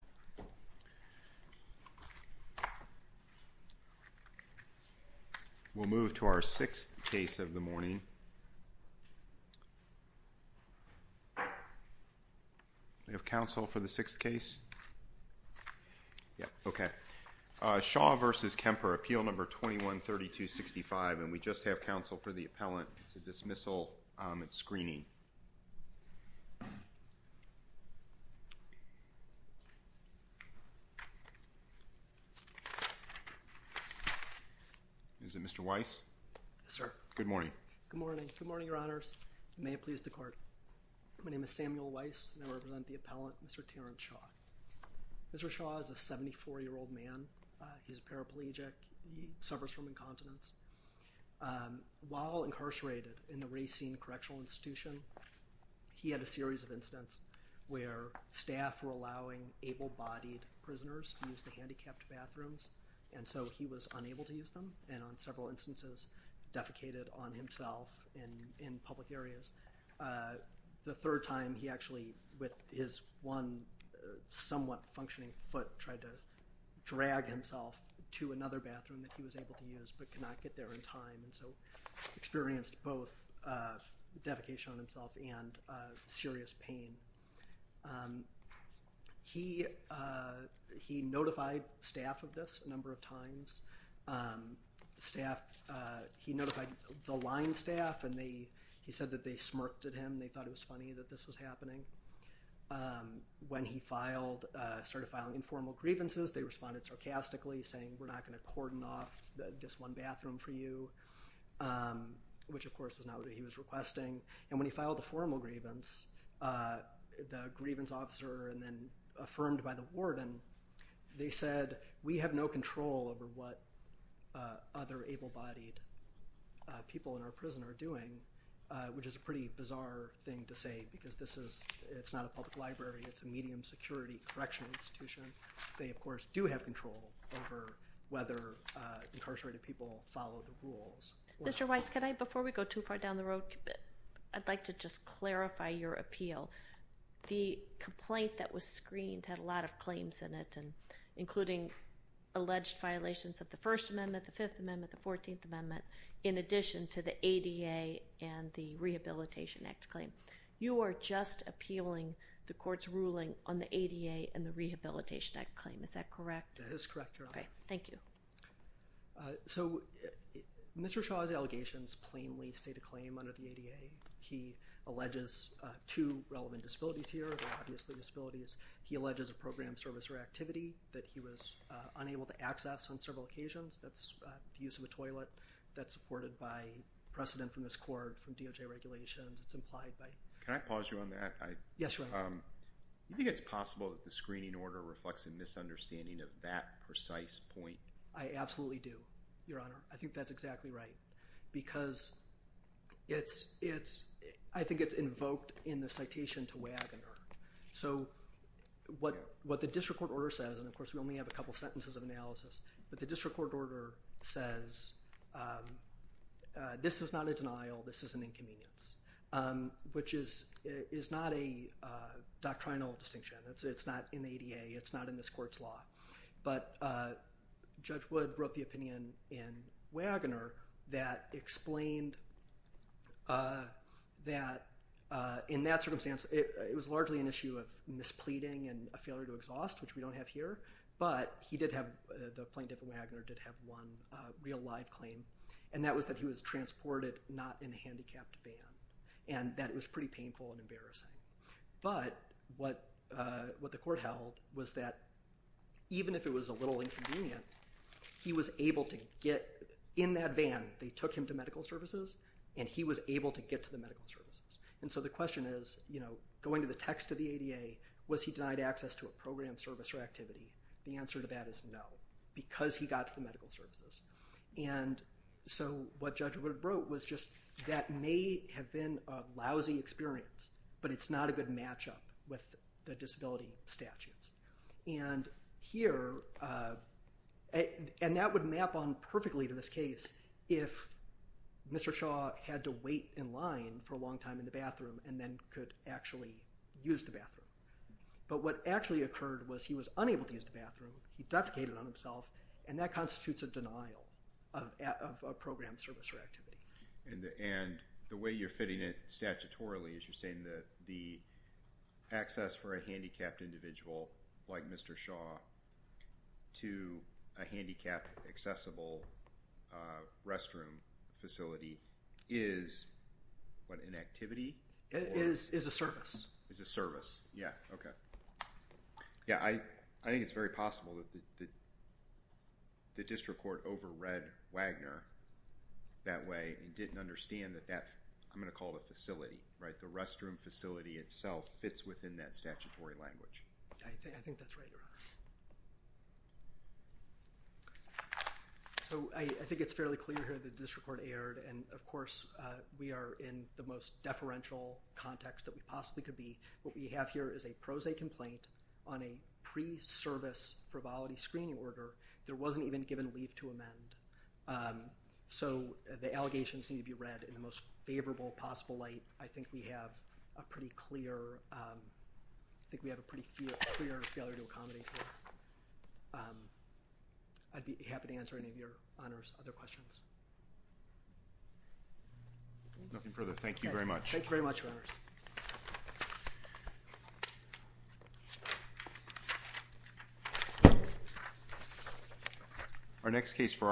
We'll move to our sixth case of the morning. Do we have counsel for the sixth case? Yes. Okay. Shaw v. Kemper, appeal number 21-3265. And we just have counsel for the appellant to dismissal its screening. Is it Mr. Weiss? Yes, sir. Good morning. Good morning. Good morning, Your Honors. May it please the Court. My name is Samuel Weiss, and I represent the appellant, Mr. Terrance Shaw. Mr. Shaw is a 74-year-old man. He's a paraplegic. He suffers from incontinence. While incarcerated in the Racine Correctional Institution, he had a series of incidents where staff were allowing able-bodied prisoners to use the handicapped bathrooms, and so he was unable to use them and on several instances defecated on himself in public areas. The third time, he actually, with his one somewhat functioning foot, tried to drag himself to another bathroom that he was able to use but could not get there in time, and so experienced both defecation on himself and serious pain. He notified staff of this a number of times. He notified the line staff, and he said that they smirked at him and they thought it was funny that this was happening. When he started filing informal grievances, they responded sarcastically, saying, We're not going to cordon off this one bathroom for you, which, of course, was not what he was requesting. And when he filed a formal grievance, the grievance officer, and then affirmed by the warden, they said, We have no control over what other able-bodied people in our prison are doing, which is a pretty bizarre thing to say because this is not a public library. It's a medium security correctional institution. They, of course, do have control over whether incarcerated people follow the rules. Mr. Weiss, could I, before we go too far down the road, I'd like to just clarify your appeal. The complaint that was screened had a lot of claims in it, including alleged violations of the First Amendment, the Fifth Amendment, the Fourteenth Amendment, in addition to the ADA and the Rehabilitation Act claim. You are just appealing the court's ruling on the ADA and the Rehabilitation Act claim. Is that correct? That is correct, Your Honor. Okay. Thank you. So Mr. Shaw's allegations plainly state a claim under the ADA. He alleges two relevant disabilities here. They're obviously disabilities. He alleges a program, service, or activity that he was unable to access on several occasions. That's the use of a toilet. That's supported by precedent from his court, from DOJ regulations. It's implied by… Can I pause you on that? Yes, Your Honor. Do you think it's possible that the screening order reflects a misunderstanding of that precise point? I absolutely do, Your Honor. I think that's exactly right because I think it's invoked in the citation to Wagoner. So what the district court order says, and, of course, we only have a couple sentences of analysis, but the district court order says this is not a denial. This is an inconvenience, which is not a doctrinal distinction. It's not in the ADA. It's not in this court's law. But Judge Wood wrote the opinion in Wagoner that explained that in that circumstance, it was largely an issue of mispleading and a failure to exhaust, which we don't have here, but the plaintiff in Wagoner did have one real live claim, and that was that he was transported not in a handicapped van, and that it was pretty painful and embarrassing. But what the court held was that even if it was a little inconvenient, he was able to get in that van. They took him to medical services, and he was able to get to the medical services. And so the question is, you know, going to the text of the ADA, was he denied access to a program, service, or activity? The answer to that is no because he got to the medical services. And so what Judge Wood wrote was just that may have been a lousy experience, but it's not a good matchup with the disability statutes. And that would map on perfectly to this case if Mr. Shaw had to wait in line for a long time in the bathroom and then could actually use the bathroom. But what actually occurred was he was unable to use the bathroom. He defecated on himself, and that constitutes a denial of a program, service, or activity. And the way you're fitting it statutorily is you're saying that the access for a handicapped individual like Mr. Shaw to a handicapped accessible restroom facility is what, an activity? It is a service. It's a service. Yeah, okay. Yeah, I think it's very possible that the district court overread Wagner that way and didn't understand that that, I'm going to call it a facility, right? The restroom facility itself fits within that statutory language. I think that's right, Your Honor. So I think it's fairly clear here that the district court erred, and of course we are in the most deferential context that we possibly could be. What we have here is a pro se complaint on a pre-service frivolity screening order. There wasn't even given leave to amend. So the allegations need to be read in the most favorable possible light. I think we have a pretty clear failure to accommodate this. I'd be happy to answer any of Your Honor's other questions. Nothing further. Thank you very much. Thank you very much, Your Honors.